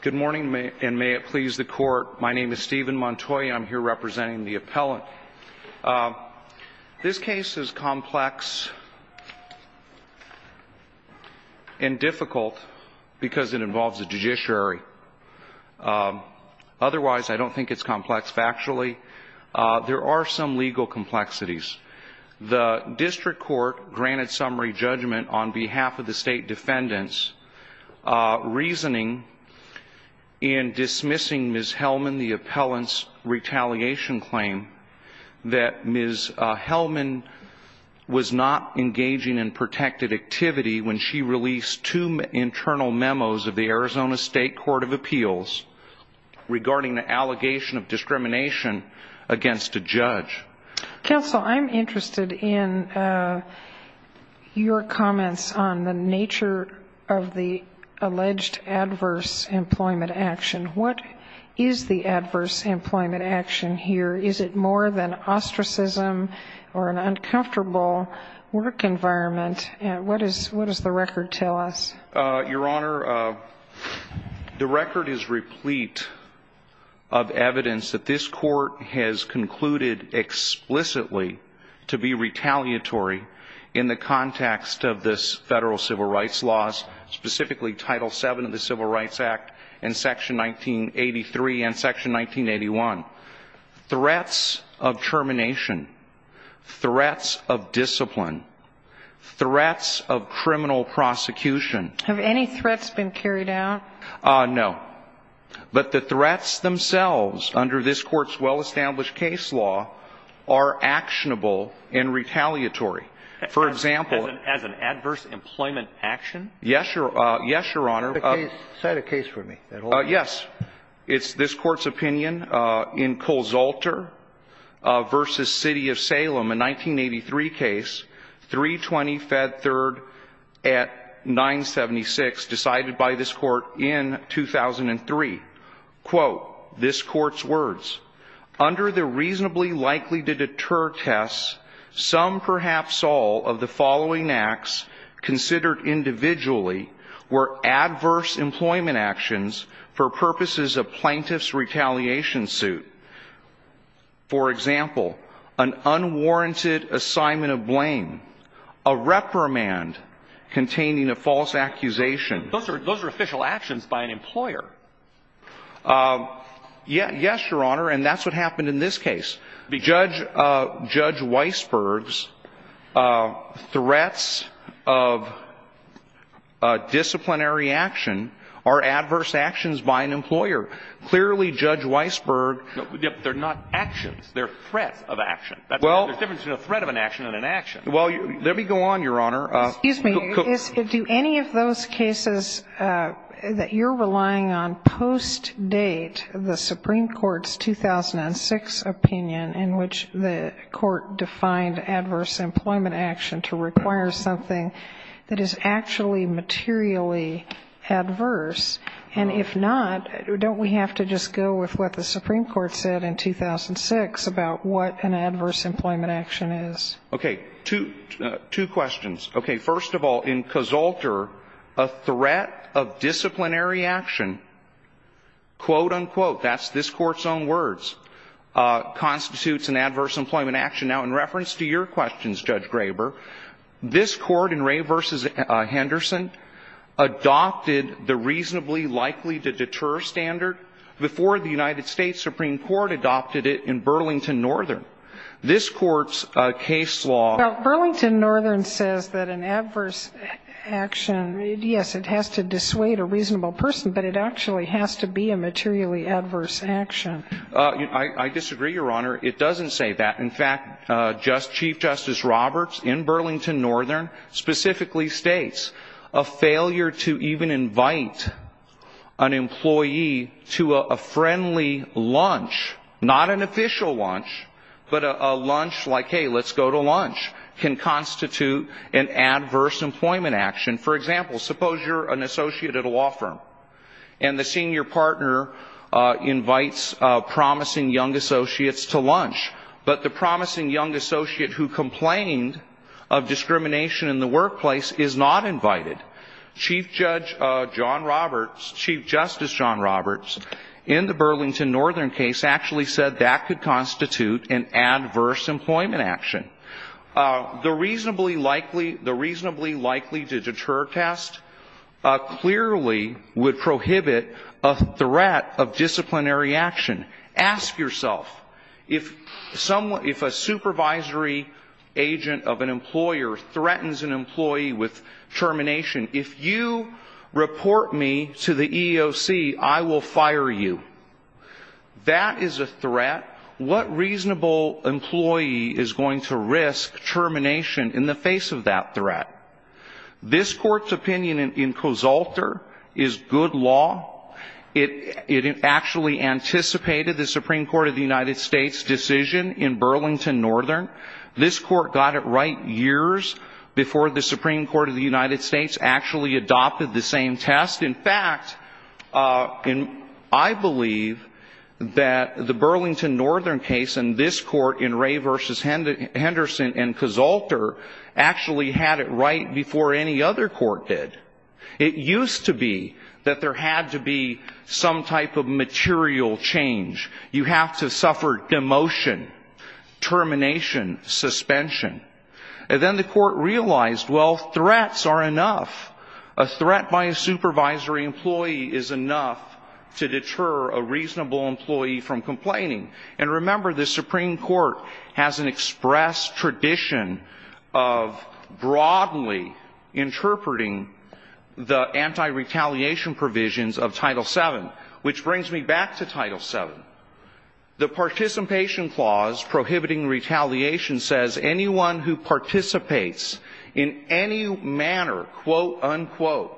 Good morning, and may it please the court. My name is Stephen Montoya. I'm here representing the appellant. This case is complex and difficult because it involves a judiciary. Otherwise, I don't think it's complex. Factually, there are some legal complexities. The district court granted summary judgment on behalf of the state defendants, reasoning in dismissing Ms. Hellman, the appellant's retaliation claim, that Ms. Hellman was not engaging in protected activity when she released two internal memos of the Arizona State Court of Appeals regarding the allegation of discrimination against a judge. Counsel, I'm interested in your comments on the nature of the alleged adverse employment action. What is the adverse employment action here? Is it more than ostracism or an uncomfortable work environment? What does the record tell us? Your Honor, the record is replete of evidence that this court has concluded explicitly to be retaliatory in the context of this federal civil rights laws, specifically Title VII of the Civil Rights Act and Section 1983 and Section 1981. Threats of termination, threats of discipline, threats of criminal prosecution. Have any threats been carried out? No. But the threats themselves, under this Court's well-established case law, are actionable and retaliatory. For example — As an adverse employment action? Yes, Your Honor. Cite a case for me. Yes. It's this Court's opinion in Colzalter v. City of Salem, a 1983 case, 320 Fed 3rd at 976, decided by this Court in 2003. Quote, this Court's words, under the reasonably likely-to-deter tests, some, perhaps all, of the following acts considered individually were adverse employment actions for purposes of plaintiff's retaliation suit. For example, an unwarranted assignment of blame, a reprimand containing a false accusation. Those are official actions by an employer. Yes, Your Honor. And that's what happened in this case. Judge Weisberg's threats of disciplinary action are adverse actions by an employer. Clearly, Judge Weisberg — They're not actions. They're threats of action. Well — There's a difference between a threat of an action and an action. Well, let me go on, Your Honor. Excuse me. Do any of those cases that you're relying on post-date the Supreme Court's 2006 opinion in which the Court defined adverse employment action to require something that is actually materially adverse? And if not, don't we have to just go with what the Supreme Court said in 2006 about what an adverse employment action is? Okay. Two questions. Okay. First of all, in Casalter, a threat of disciplinary action, quote, unquote — that's this Court's own words — constitutes an adverse employment action. Now, in reference to your questions, Judge Graber, this Court in Ray v. Henderson adopted the reasonably likely-to-deter standard before the United States Supreme Court adopted it in Burlington Northern. This Court's case law — Now, Burlington Northern says that an adverse action — yes, it has to dissuade a reasonable person, but it actually has to be a materially adverse action. I disagree, Your Honor. It doesn't say that. In fact, Chief Justice Roberts in Burlington Northern specifically states a failure to even invite an employee to a friendly lunch — not an official lunch, but a lunch like, hey, let's go to lunch — can constitute an adverse employment action. For example, suppose you're an associate at a law firm, and the senior partner invites promising young associates to lunch, but the promising young associate who complained of discrimination in the workplace is not invited. Chief Justice John Roberts in the Burlington Northern case actually said that could constitute an adverse employment action. The reasonably likely-to-deter test clearly would prohibit a threat of disciplinary action. Ask yourself, if a supervisory agent of an employer threatens an employee with termination, if you report me to the EEOC, I will fire you. That is a threat. What reasonable employee is going to risk termination in the face of that threat? This Court's opinion in Kosalter is good law. It actually anticipated the Supreme Court of the United States' decision in Burlington Northern. This Court got it right years before the Supreme Court of the United States actually adopted the same test. In fact, I believe that the Burlington Northern case and this Court in Ray v. Henderson and Kosalter actually had it right before any other court did. It used to be that there had to be some type of material change. You have to suffer demotion, termination, suspension. And then the Court realized, well, threats are enough. A threat by a supervisory employee is enough to deter a reasonable employee from complaining. And remember, the Supreme Court has an express tradition of broadly interpreting the anti-retaliation provisions of Title VII. Which brings me back to Title VII. The participation clause prohibiting retaliation says anyone who participates in any manner, quote, unquote,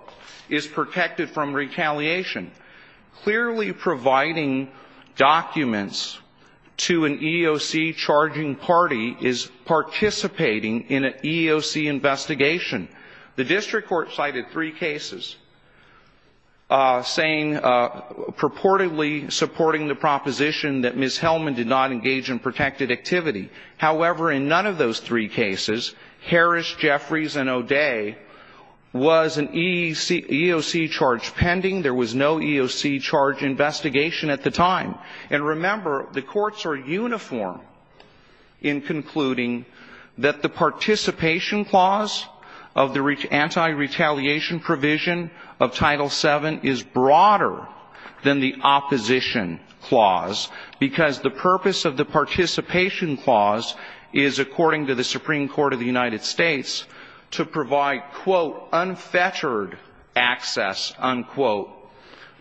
is protected from retaliation. Clearly providing documents to an EEOC charging party is participating in an EEOC investigation. The district court cited three cases saying, purportedly supporting the proposition that Ms. Hellman did not engage in protected activity. However, in none of those three cases, Harris, Jeffries, and O'Day was an EEOC charge pending. There was no EEOC charge investigation at the time. And remember, the courts are uniform in concluding that the participation clause of the anti-retaliation provision of Title VII is broader than the opposition clause. Because the purpose of the participation clause is, according to the Supreme Court of the United States, to provide, quote, unfettered access, unquote,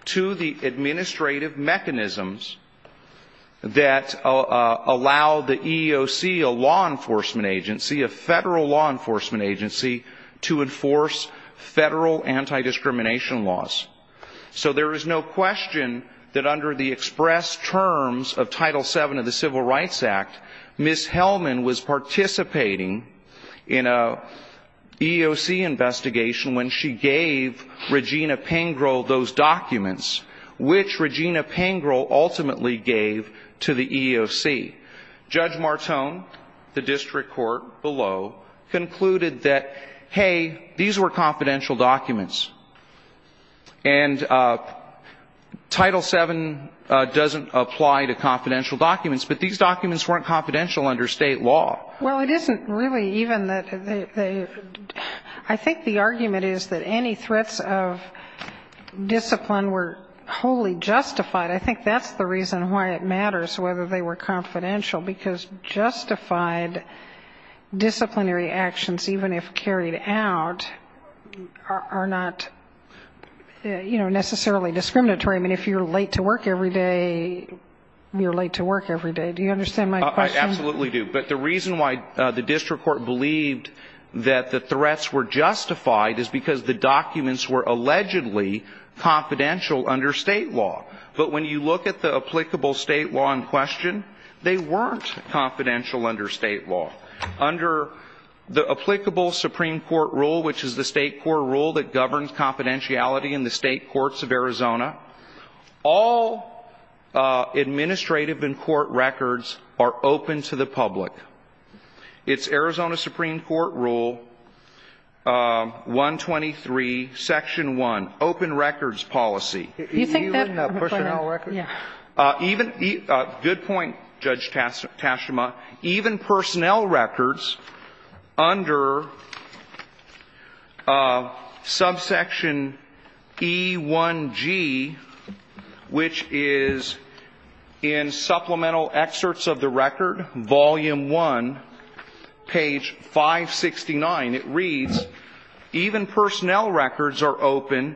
to the administrative mechanisms that allow the EEOC, a law enforcement agency, a federal law enforcement agency, to enforce federal anti-discrimination laws. So there is no question that under the express terms of Title VII of the Civil Rights Act, Ms. Hellman was participating in an EEOC investigation when she gave Regina Pengrill those documents, which Regina Pengrill ultimately gave to the EEOC. Judge Martone, the district court below, concluded that, hey, these were confidential documents. And Title VII doesn't apply to confidential documents, but these documents weren't confidential under State law. Well, it isn't really even that they – I think the argument is that any threats of discipline were wholly justified. I think that's the reason why it matters whether they were confidential, because justified disciplinary actions, even if carried out, are not necessarily discriminatory. I mean, if you're late to work every day, you're late to work every day. Do you understand my question? I absolutely do. But the reason why the district court believed that the threats were justified is because the documents were allegedly confidential under State law. But when you look at the applicable State law in question, they weren't confidential under State law. Under the applicable Supreme Court rule, which is the State court rule that governs confidentiality in the State courts of Arizona, all administrative and court records are open to the public. It's Arizona Supreme Court Rule 123, Section 1, open records policy. You think that – Even personnel records? Yeah. Good point, Judge Tashima. Even personnel records under subsection E1G, which is in Supplemental Excerpts of the Record, Volume I, page 569, it reads, even personnel records are open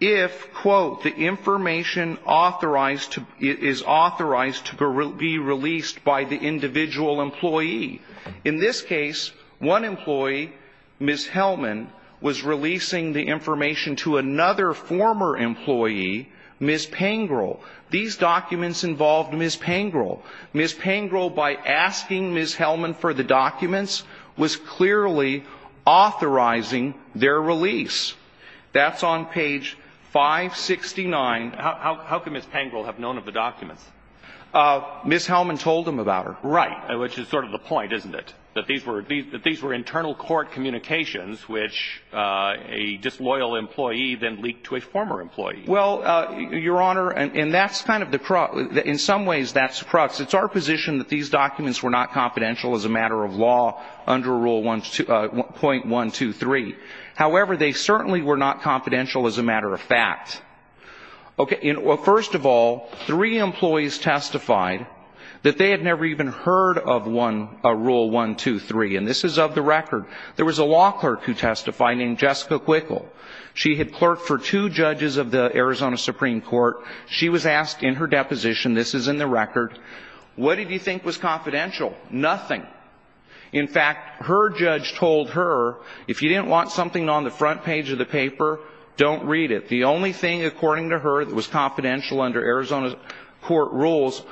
if, quote, the information authorized to – is authorized to be released by the individual employee. In this case, one employee, Ms. Hellman, was releasing the information to another former employee, Ms. Pangrel. These documents involved Ms. Pangrel. Ms. Pangrel, by asking Ms. Hellman for the documents, was clearly authorizing their release. That's on page 569. How could Ms. Pangrel have known of the documents? Ms. Hellman told them about her. Right. Which is sort of the point, isn't it? That these were internal court communications which a disloyal employee then leaked to a former employee. Well, Your Honor, and that's kind of the – in some ways, that's the crux. It's our position that these documents were not confidential as a matter of law under Rule .123. However, they certainly were not confidential as a matter of fact. Okay. Well, first of all, three employees testified that they had never even heard of Rule 123. And this is of the record. There was a law clerk who testified named Jessica Quickel. She had clerked for two judges of the Arizona Supreme Court. She was asked in her deposition – this is in the record – what did you think was confidential? Nothing. In fact, her judge told her, if you didn't want something on the front page of the paper, don't read it. The only thing, according to her, that was confidential under Arizona court rules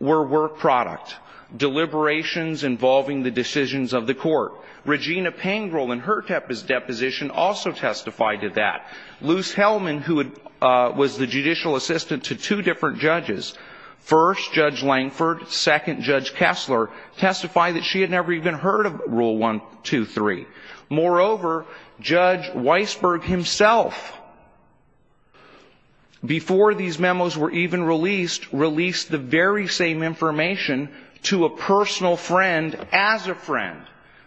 were work product, deliberations involving the decisions of the court. Regina Pangrel, in her deposition, also testified to that. Luce Hellman, who was the judicial assistant to two different judges, first Judge Lankford, second Judge Kessler, testified that she had never even heard of Rule 123. Moreover, Judge Weisberg himself, before these memos were even released, released the very same information to a personal friend as a friend.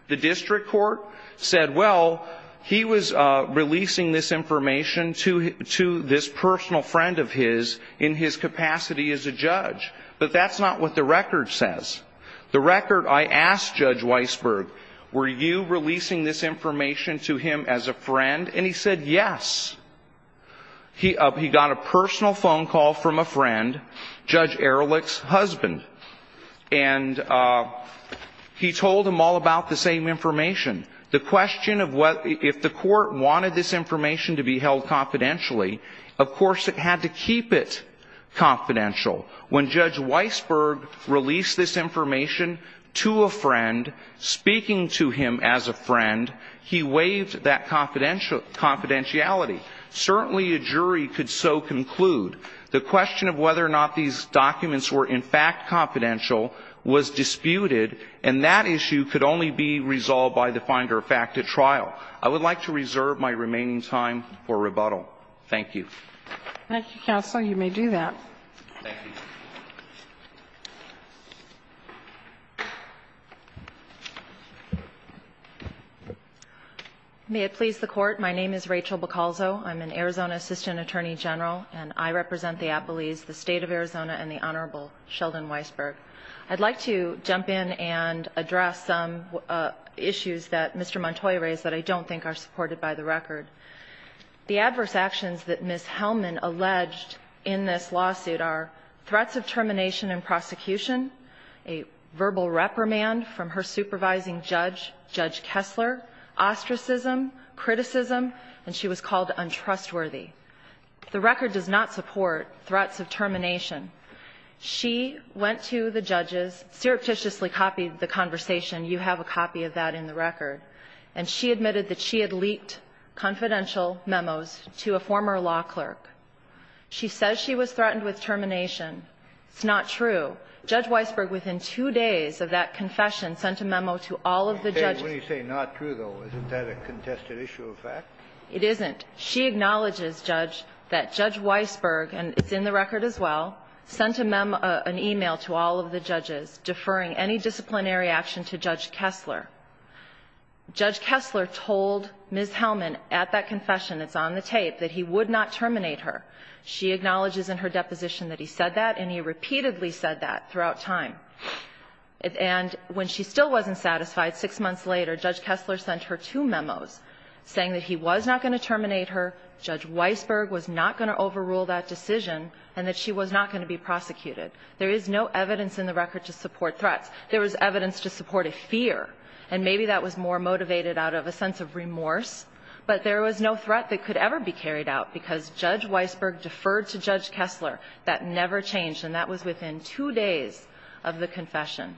The district court said, well, he was releasing this information to this personal friend of his in his capacity as a judge. But that's not what the record says. The record, I asked Judge Weisberg, were you releasing this information to him as a friend? And he said yes. He got a personal phone call from a friend, Judge Ehrlich's husband. And he told them all about the same information. The question of whether, if the court wanted this information to be held confidentially, of course it had to keep it confidential. When Judge Weisberg released this information to a friend, speaking to him as a friend, he waived that confidentiality. Certainly a jury could so conclude. The question of whether or not these documents were in fact confidential was disputed, and that issue could only be resolved by the finder of fact at trial. I would like to reserve my remaining time for rebuttal. Thank you. Thank you, counsel. You may do that. Thank you. May it please the Court. My name is Rachel Boccalzo. I'm an Arizona Assistant Attorney General, and I represent the Appalese, the State of Arizona, and the Honorable Sheldon Weisberg. I'd like to jump in and address some issues that Mr. Montoy raised that I don't think are supported by the record. The adverse actions that Ms. Hellman alleged in this lawsuit are threats of termination and prosecution, a verbal reprimand from her supervising judge, Judge Kessler, ostracism, criticism, and she was called untrustworthy. The record does not support threats of termination. She went to the judges, surreptitiously copied the conversation. You have a copy of that in the record. And she admitted that she had leaked confidential memos to a former law clerk. She says she was threatened with termination. It's not true. Judge Weisberg, within two days of that confession, sent a memo to all of the judges. Kennedy, when you say not true, though, isn't that a contested issue of fact? It isn't. She acknowledges, Judge, that Judge Weisberg, and it's in the record as well, sent a memo or an email to all of the judges deferring any disciplinary action to Judge Kessler. Judge Kessler told Ms. Hellman at that confession, it's on the tape, that he would not terminate her. She acknowledges in her deposition that he said that, and he repeatedly said that throughout time. And when she still wasn't satisfied, six months later, Judge Kessler sent her two memos saying that he was not going to terminate her, Judge Weisberg was not going to overrule that decision, and that she was not going to be prosecuted. There is no evidence in the record to support threats. There was evidence to support a fear, and maybe that was more motivated out of a sense of remorse, but there was no threat that could ever be carried out because Judge Weisberg deferred to Judge Kessler. That never changed. And that was within two days of the confession.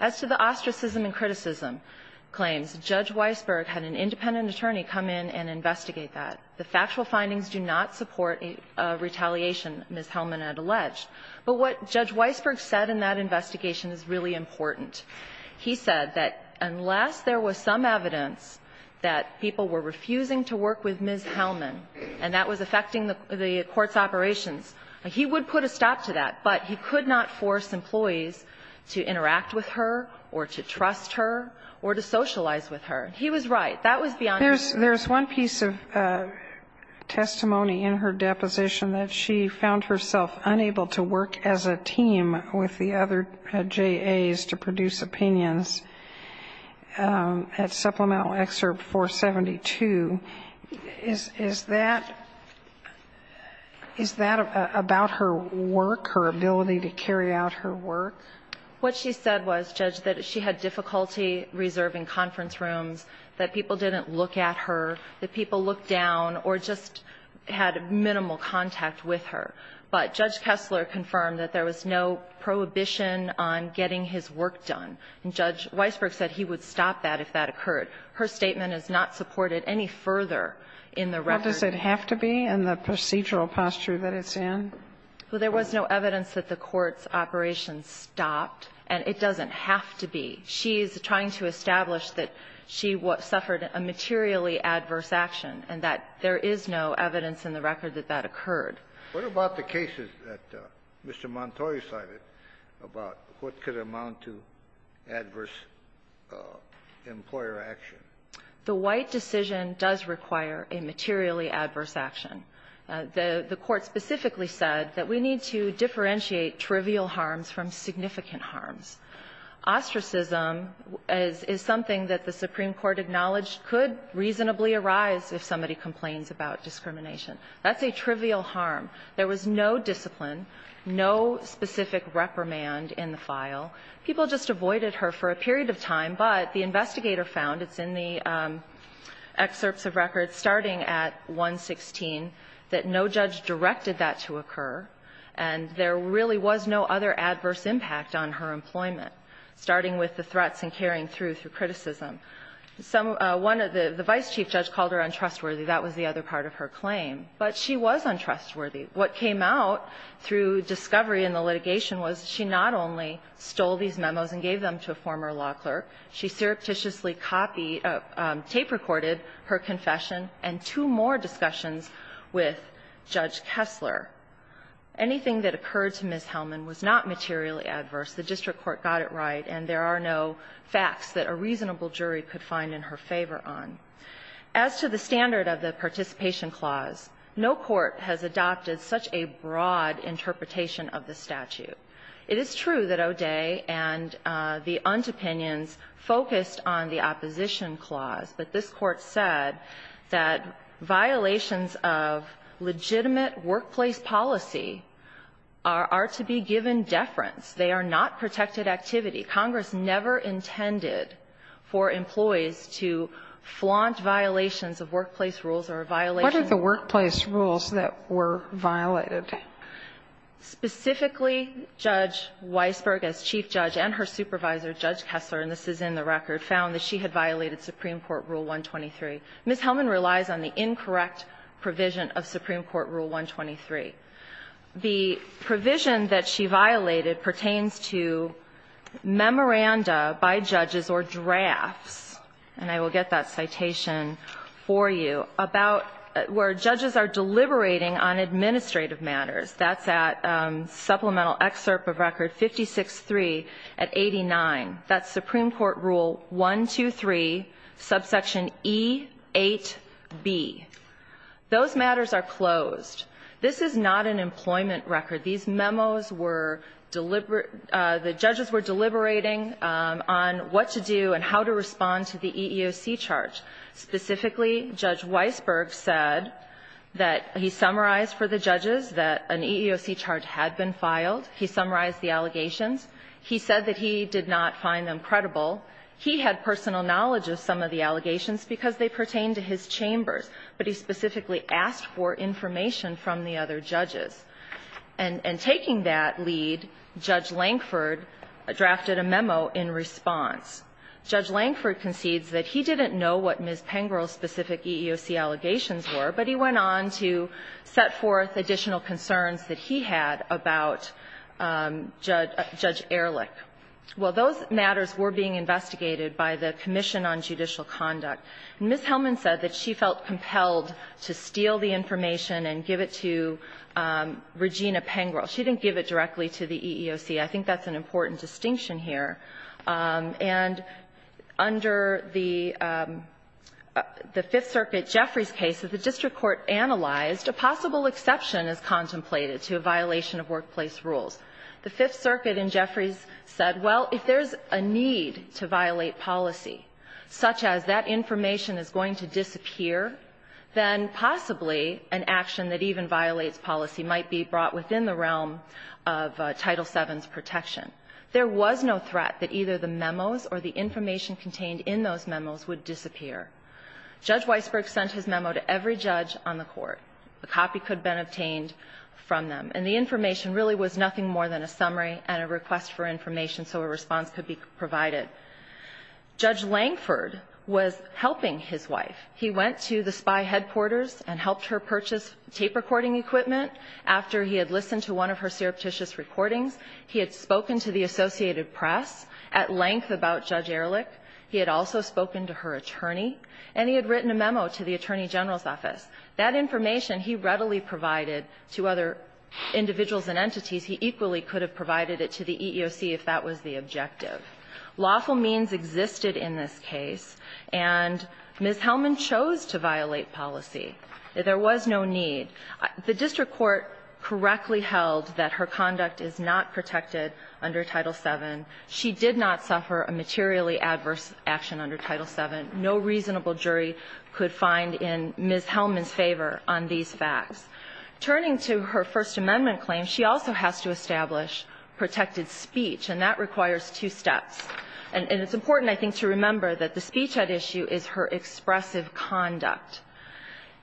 As to the ostracism and criticism claims, Judge Weisberg had an independent attorney come in and investigate that. The factual findings do not support a retaliation Ms. Hellman had alleged. But what Judge Weisberg said in that investigation is really important. He said that unless there was some evidence that people were refusing to work with Ms. Hellman, and that was affecting the court's operations, he would put a stop to that, but he could not force employees to interact with her or to trust her or to socialize with her. He was right. That was beyond his jurisdiction. Sotomayor There's one piece of testimony in her deposition that she found herself unable to work as a team with the other J.A.s to produce opinions at Supplemental Excerpt 472. Is that about her work, her ability to carry out her work? What she said was, Judge, that she had difficulty reserving conference rooms, that people didn't look at her, that people looked down or just had minimal contact with her. But Judge Kessler confirmed that there was no prohibition on getting his work done, and Judge Weisberg said he would stop that if that occurred. Her statement is not supported any further in the record. What does it have to be in the procedural posture that it's in? Well, there was no evidence that the court's operations stopped, and it doesn't have to be. She is trying to establish that she suffered a materially adverse action and that there is no evidence in the record that that occurred. What about the cases that Mr. Montori cited about what could amount to adverse employer action? The White decision does require a materially adverse action. The Court specifically said that we need to differentiate trivial harms from significant harms. Ostracism is something that the Supreme Court acknowledged could reasonably arise if somebody complains about discrimination. That's a trivial harm. There was no discipline, no specific reprimand in the file. People just avoided her for a period of time, but the investigator found, it's in the excerpts of records starting at 116, that no judge directed that to occur, and there really was no other adverse impact on her employment, starting with the threats and carrying through, through criticism. The vice chief judge called her untrustworthy. That was the other part of her claim. But she was untrustworthy. What came out through discovery in the litigation was she not only stole these memos and gave them to a former law clerk, she surreptitiously copied, tape-recorded her confession and two more discussions with Judge Kessler. Anything that occurred to Ms. Hellman was not materially adverse. The district court got it right, and there are no facts that a reasonable jury could find in her favor on. As to the standard of the participation clause, no court has adopted such a broad interpretation of the statute. It is true that O'Day and the untopinions focused on the opposition clause, but this Court said that violations of legitimate workplace policy are to be given deference. They are not protected activity. Congress never intended for employees to flaunt violations of workplace rules or violations of workplace rules that were violated. Specifically, Judge Weisberg, as chief judge, and her supervisor, Judge Kessler, and this is in the record, found that she had violated Supreme Court Rule 123. Ms. Hellman relies on the incorrect provision of Supreme Court Rule 123. The provision that she violated pertains to memoranda by judges or drafts, and I will get that citation for you, about where judges are deliberating on administrative matters. That's at supplemental excerpt of Record 56-3 at 89. That's Supreme Court Rule 123, subsection E-8B. Those matters are closed. This is not an employment record. These memos were deliberate. The judges were deliberating on what to do and how to respond to the EEOC charge. Specifically, Judge Weisberg said that he summarized for the judges that an EEOC charge had been filed. He summarized the allegations. He said that he did not find them credible. He had personal knowledge of some of the allegations because they pertain to his chambers, but he specifically asked for information from the other judges. And taking that lead, Judge Lankford drafted a memo in response. Judge Lankford concedes that he didn't know what Ms. Pengrel's specific EEOC allegations were, but he went on to set forth additional concerns that he had about Judge Ehrlich. Well, those matters were being investigated by the Commission on Judicial Conduct. And Ms. Hellman said that she felt compelled to steal the information and give it to Regina Pengrel. She didn't give it directly to the EEOC. I think that's an important distinction here. And under the Fifth Circuit, Jeffrey's case, the district court analyzed a possible exception as contemplated to a violation of workplace rules. The Fifth Circuit in Jeffrey's said, well, if there's a need to violate policy, such as that information is going to disappear, then possibly an action that even violates policy might be brought within the realm of Title VII's protection. There was no threat that either the memos or the information contained in those memos would disappear. Judge Weisberg sent his memo to every judge on the court. A copy could have been obtained from them. And the information really was nothing more than a summary and a request for information so a response could be provided. Judge Langford was helping his wife. He went to the spy headquarters and helped her purchase tape recording equipment. After he had listened to one of her surreptitious recordings, he had spoken to the Associated Press at length about Judge Ehrlich. He had also spoken to her attorney. And he had written a memo to the Attorney General's office. That information he readily provided to other individuals and entities. He equally could have provided it to the EEOC if that was the objective. Lawful means existed in this case, and Ms. Hellman chose to violate policy. There was no need. The district court correctly held that her conduct is not protected under Title VII. She did not suffer a materially adverse action under Title VII. No reasonable jury could find in Ms. Hellman's favor on these facts. Turning to her First Amendment claim, she also has to establish protected speech, and that requires two steps. And it's important, I think, to remember that the speech at issue is her expressive conduct.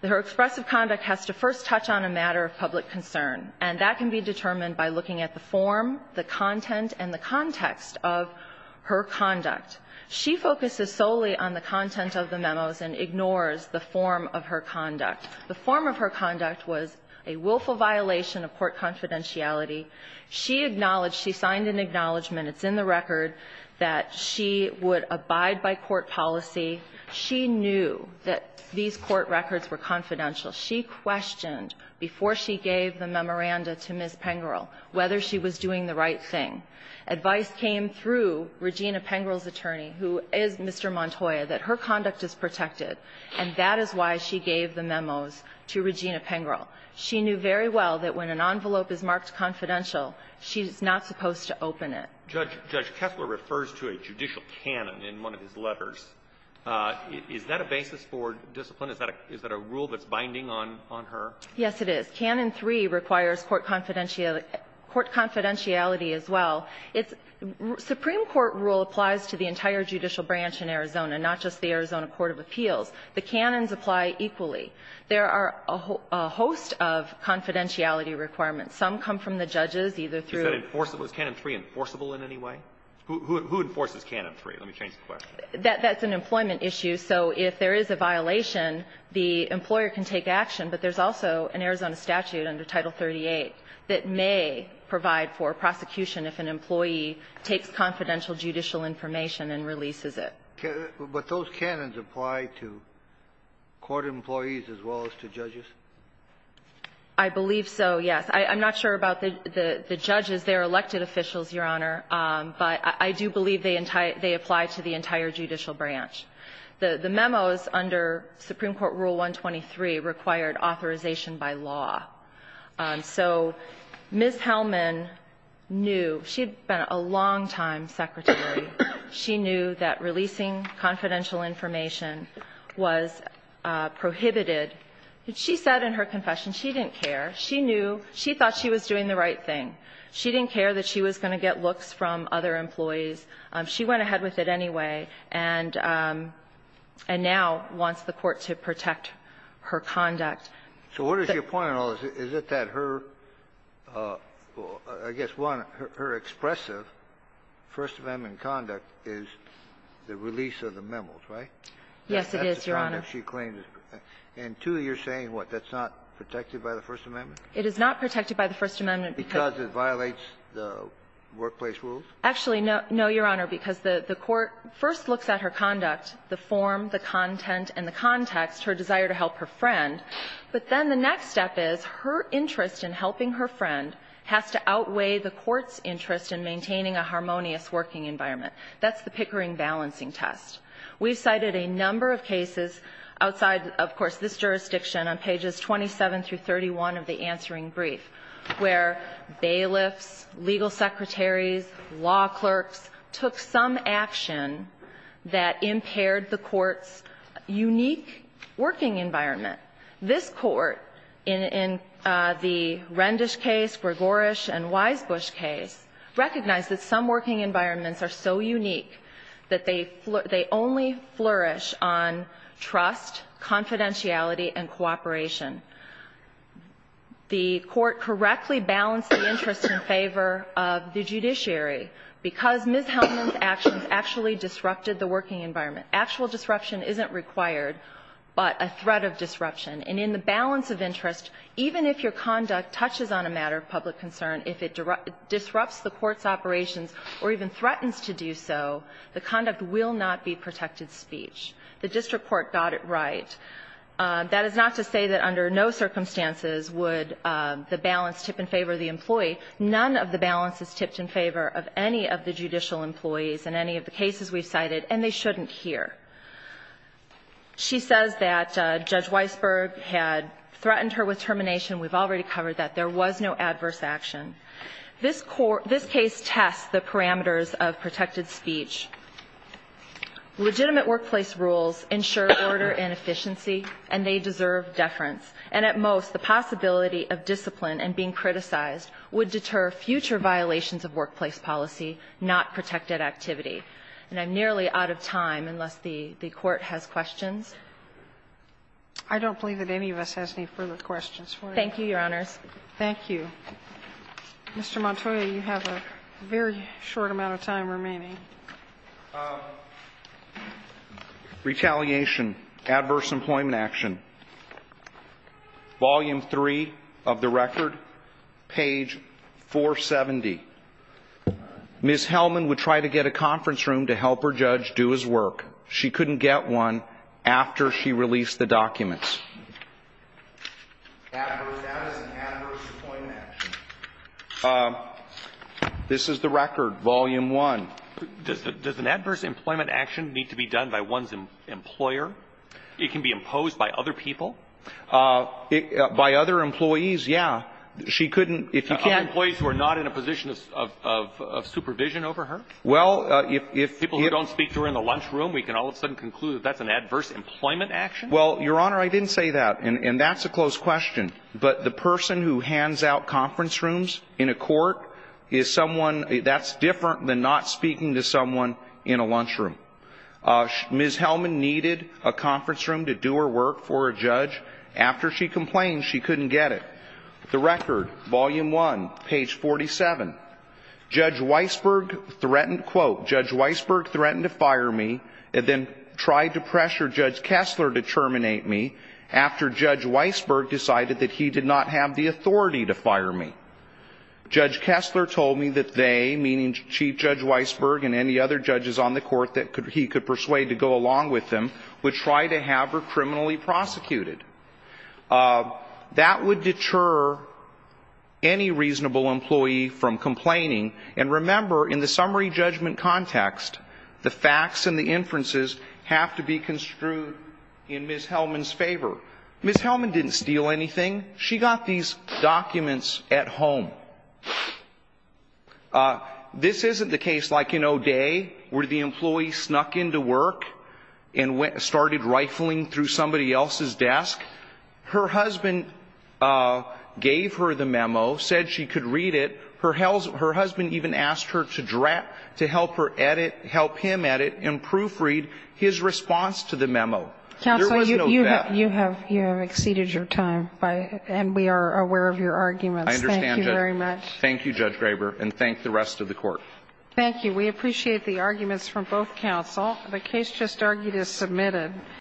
Her expressive conduct has to first touch on a matter of public concern, and that can be determined by looking at the form, the content, and the context of her conduct. She focuses solely on the content of the memos and ignores the form of her conduct. The form of her conduct was a willful violation of court confidentiality. She acknowledged, she signed an acknowledgment. It's in the record that she would abide by court policy. She knew that these court records were confidential. She questioned before she gave the memoranda to Ms. Pengrel whether she was doing the right thing. Advice came through Regina Pengrel's attorney, who is Mr. Montoya, that her conduct is protected, and that is why she gave the memos to Regina Pengrel. She knew very well that when an envelope is marked confidential, she's not supposed to open it. Judge Kessler refers to a judicial canon in one of his letters. Is that a basis for discipline? Is that a rule that's binding on her? Yes, it is. Canon 3 requires court confidentiality as well. Supreme Court rule applies to the entire judicial branch in Arizona, not just the Arizona Court of Appeals. The canons apply equally. There are a host of confidentiality requirements. Some come from the judges, either through the ---- Was Canon 3 enforceable in any way? Who enforces Canon 3? Let me change the question. That's an employment issue. So if there is a violation, the employer can take action. But there's also an Arizona statute under Title 38 that may provide for prosecution if an employee takes confidential judicial information and releases it. But those canons apply to court employees as well as to judges? I believe so, yes. I'm not sure about the judges. They're elected officials, Your Honor. But I do believe they apply to the entire judicial branch. The memos under Supreme Court Rule 123 required authorization by law. So Ms. Hellman knew. She had been a longtime secretary. She knew that releasing confidential information was prohibited. She said in her confession she didn't care. She knew. She thought she was doing the right thing. She didn't care that she was going to get looks from other employees. She went ahead with it anyway, and now wants the court to protect her conduct. So what is your point at all? Is it that her, I guess, one, her expressive First Amendment conduct is the release of the memos, right? Yes, it is, Your Honor. And two, you're saying what? That's not protected by the First Amendment? It is not protected by the First Amendment. Because it violates the workplace rules? Actually, no, Your Honor, because the court first looks at her conduct, the form, the content, and the context, her desire to help her friend. But then the next step is her interest in helping her friend has to outweigh the court's interest in maintaining a harmonious working environment. That's the Pickering balancing test. We've cited a number of cases outside, of course, this jurisdiction on pages 27 through 31 of the answering brief where bailiffs, legal secretaries, law clerks took some action that impaired the court's unique working environment. This Court, in the Rendish case, Gregorish, and Wisebush case, recognized that some working environments are so unique that they only flourish on trust, confidentiality, and cooperation. The court correctly balanced the interest in favor of the judiciary. Because Ms. Hellman's actions actually disrupted the working environment. Actual disruption isn't required, but a threat of disruption. And in the balance of interest, even if your conduct touches on a matter of public concern, if it disrupts the court's operations or even threatens to do so, the conduct will not be protected speech. The district court got it right. That is not to say that under no circumstances would the balance tip in favor of the judicial employees in any of the cases we've cited, and they shouldn't here. She says that Judge Weisberg had threatened her with termination. We've already covered that. There was no adverse action. This case tests the parameters of protected speech. Legitimate workplace rules ensure order and efficiency, and they deserve deference. And at most, the possibility of discipline and being criticized would deter future violations of workplace policy, not protected activity. And I'm nearly out of time, unless the Court has questions. I don't believe that any of us has any further questions for you. Thank you, Your Honors. Thank you. Mr. Montoya, you have a very short amount of time remaining. Retaliation. Adverse Employment Action. Volume 3 of the record, page 470. Ms. Hellman would try to get a conference room to help her judge do his work. She couldn't get one after she released the documents. That is an adverse employment action. This is the record, Volume 1. Does an adverse employment action need to be done by one's employer? It can be imposed by other people. By other employees, yeah. She couldn't, if you can't ---- Employees who are not in a position of supervision over her? Well, if you ---- People who don't speak to her in the lunch room, we can all of a sudden conclude that that's an adverse employment action? Well, Your Honor, I didn't say that, and that's a closed question. But the person who hands out conference rooms in a court is someone that's different than not speaking to someone in a lunch room. Ms. Hellman needed a conference room to do her work for a judge. After she complained, she couldn't get it. The record, Volume 1, page 47. Judge Weisberg threatened, quote, Judge Weisberg threatened to fire me and then tried to pressure Judge Kessler to terminate me after Judge Weisberg decided that he did not have the authority to fire me. Judge Kessler told me that they, meaning Chief Judge Weisberg and any other judges on the court that he could persuade to go along with them, would try to have her criminally prosecuted. That would deter any reasonable employee from complaining. And remember, in the summary judgment context, the facts and the inferences have to be construed in Ms. Hellman's favor. Ms. Hellman didn't steal anything. She got these documents at home. This isn't the case like in O'Day where the employee snuck into work and started rifling through somebody else's desk. Her husband gave her the memo, said she could read it. Her husband even asked her to help him edit and proofread his response to the memo. Counsel, you have exceeded your time, and we are aware of your arguments. Thank you very much. I understand, Judge. Thank you, Judge Graber, and thank the rest of the Court. Thank you. We appreciate the arguments from both counsel. The case just argued is submitted.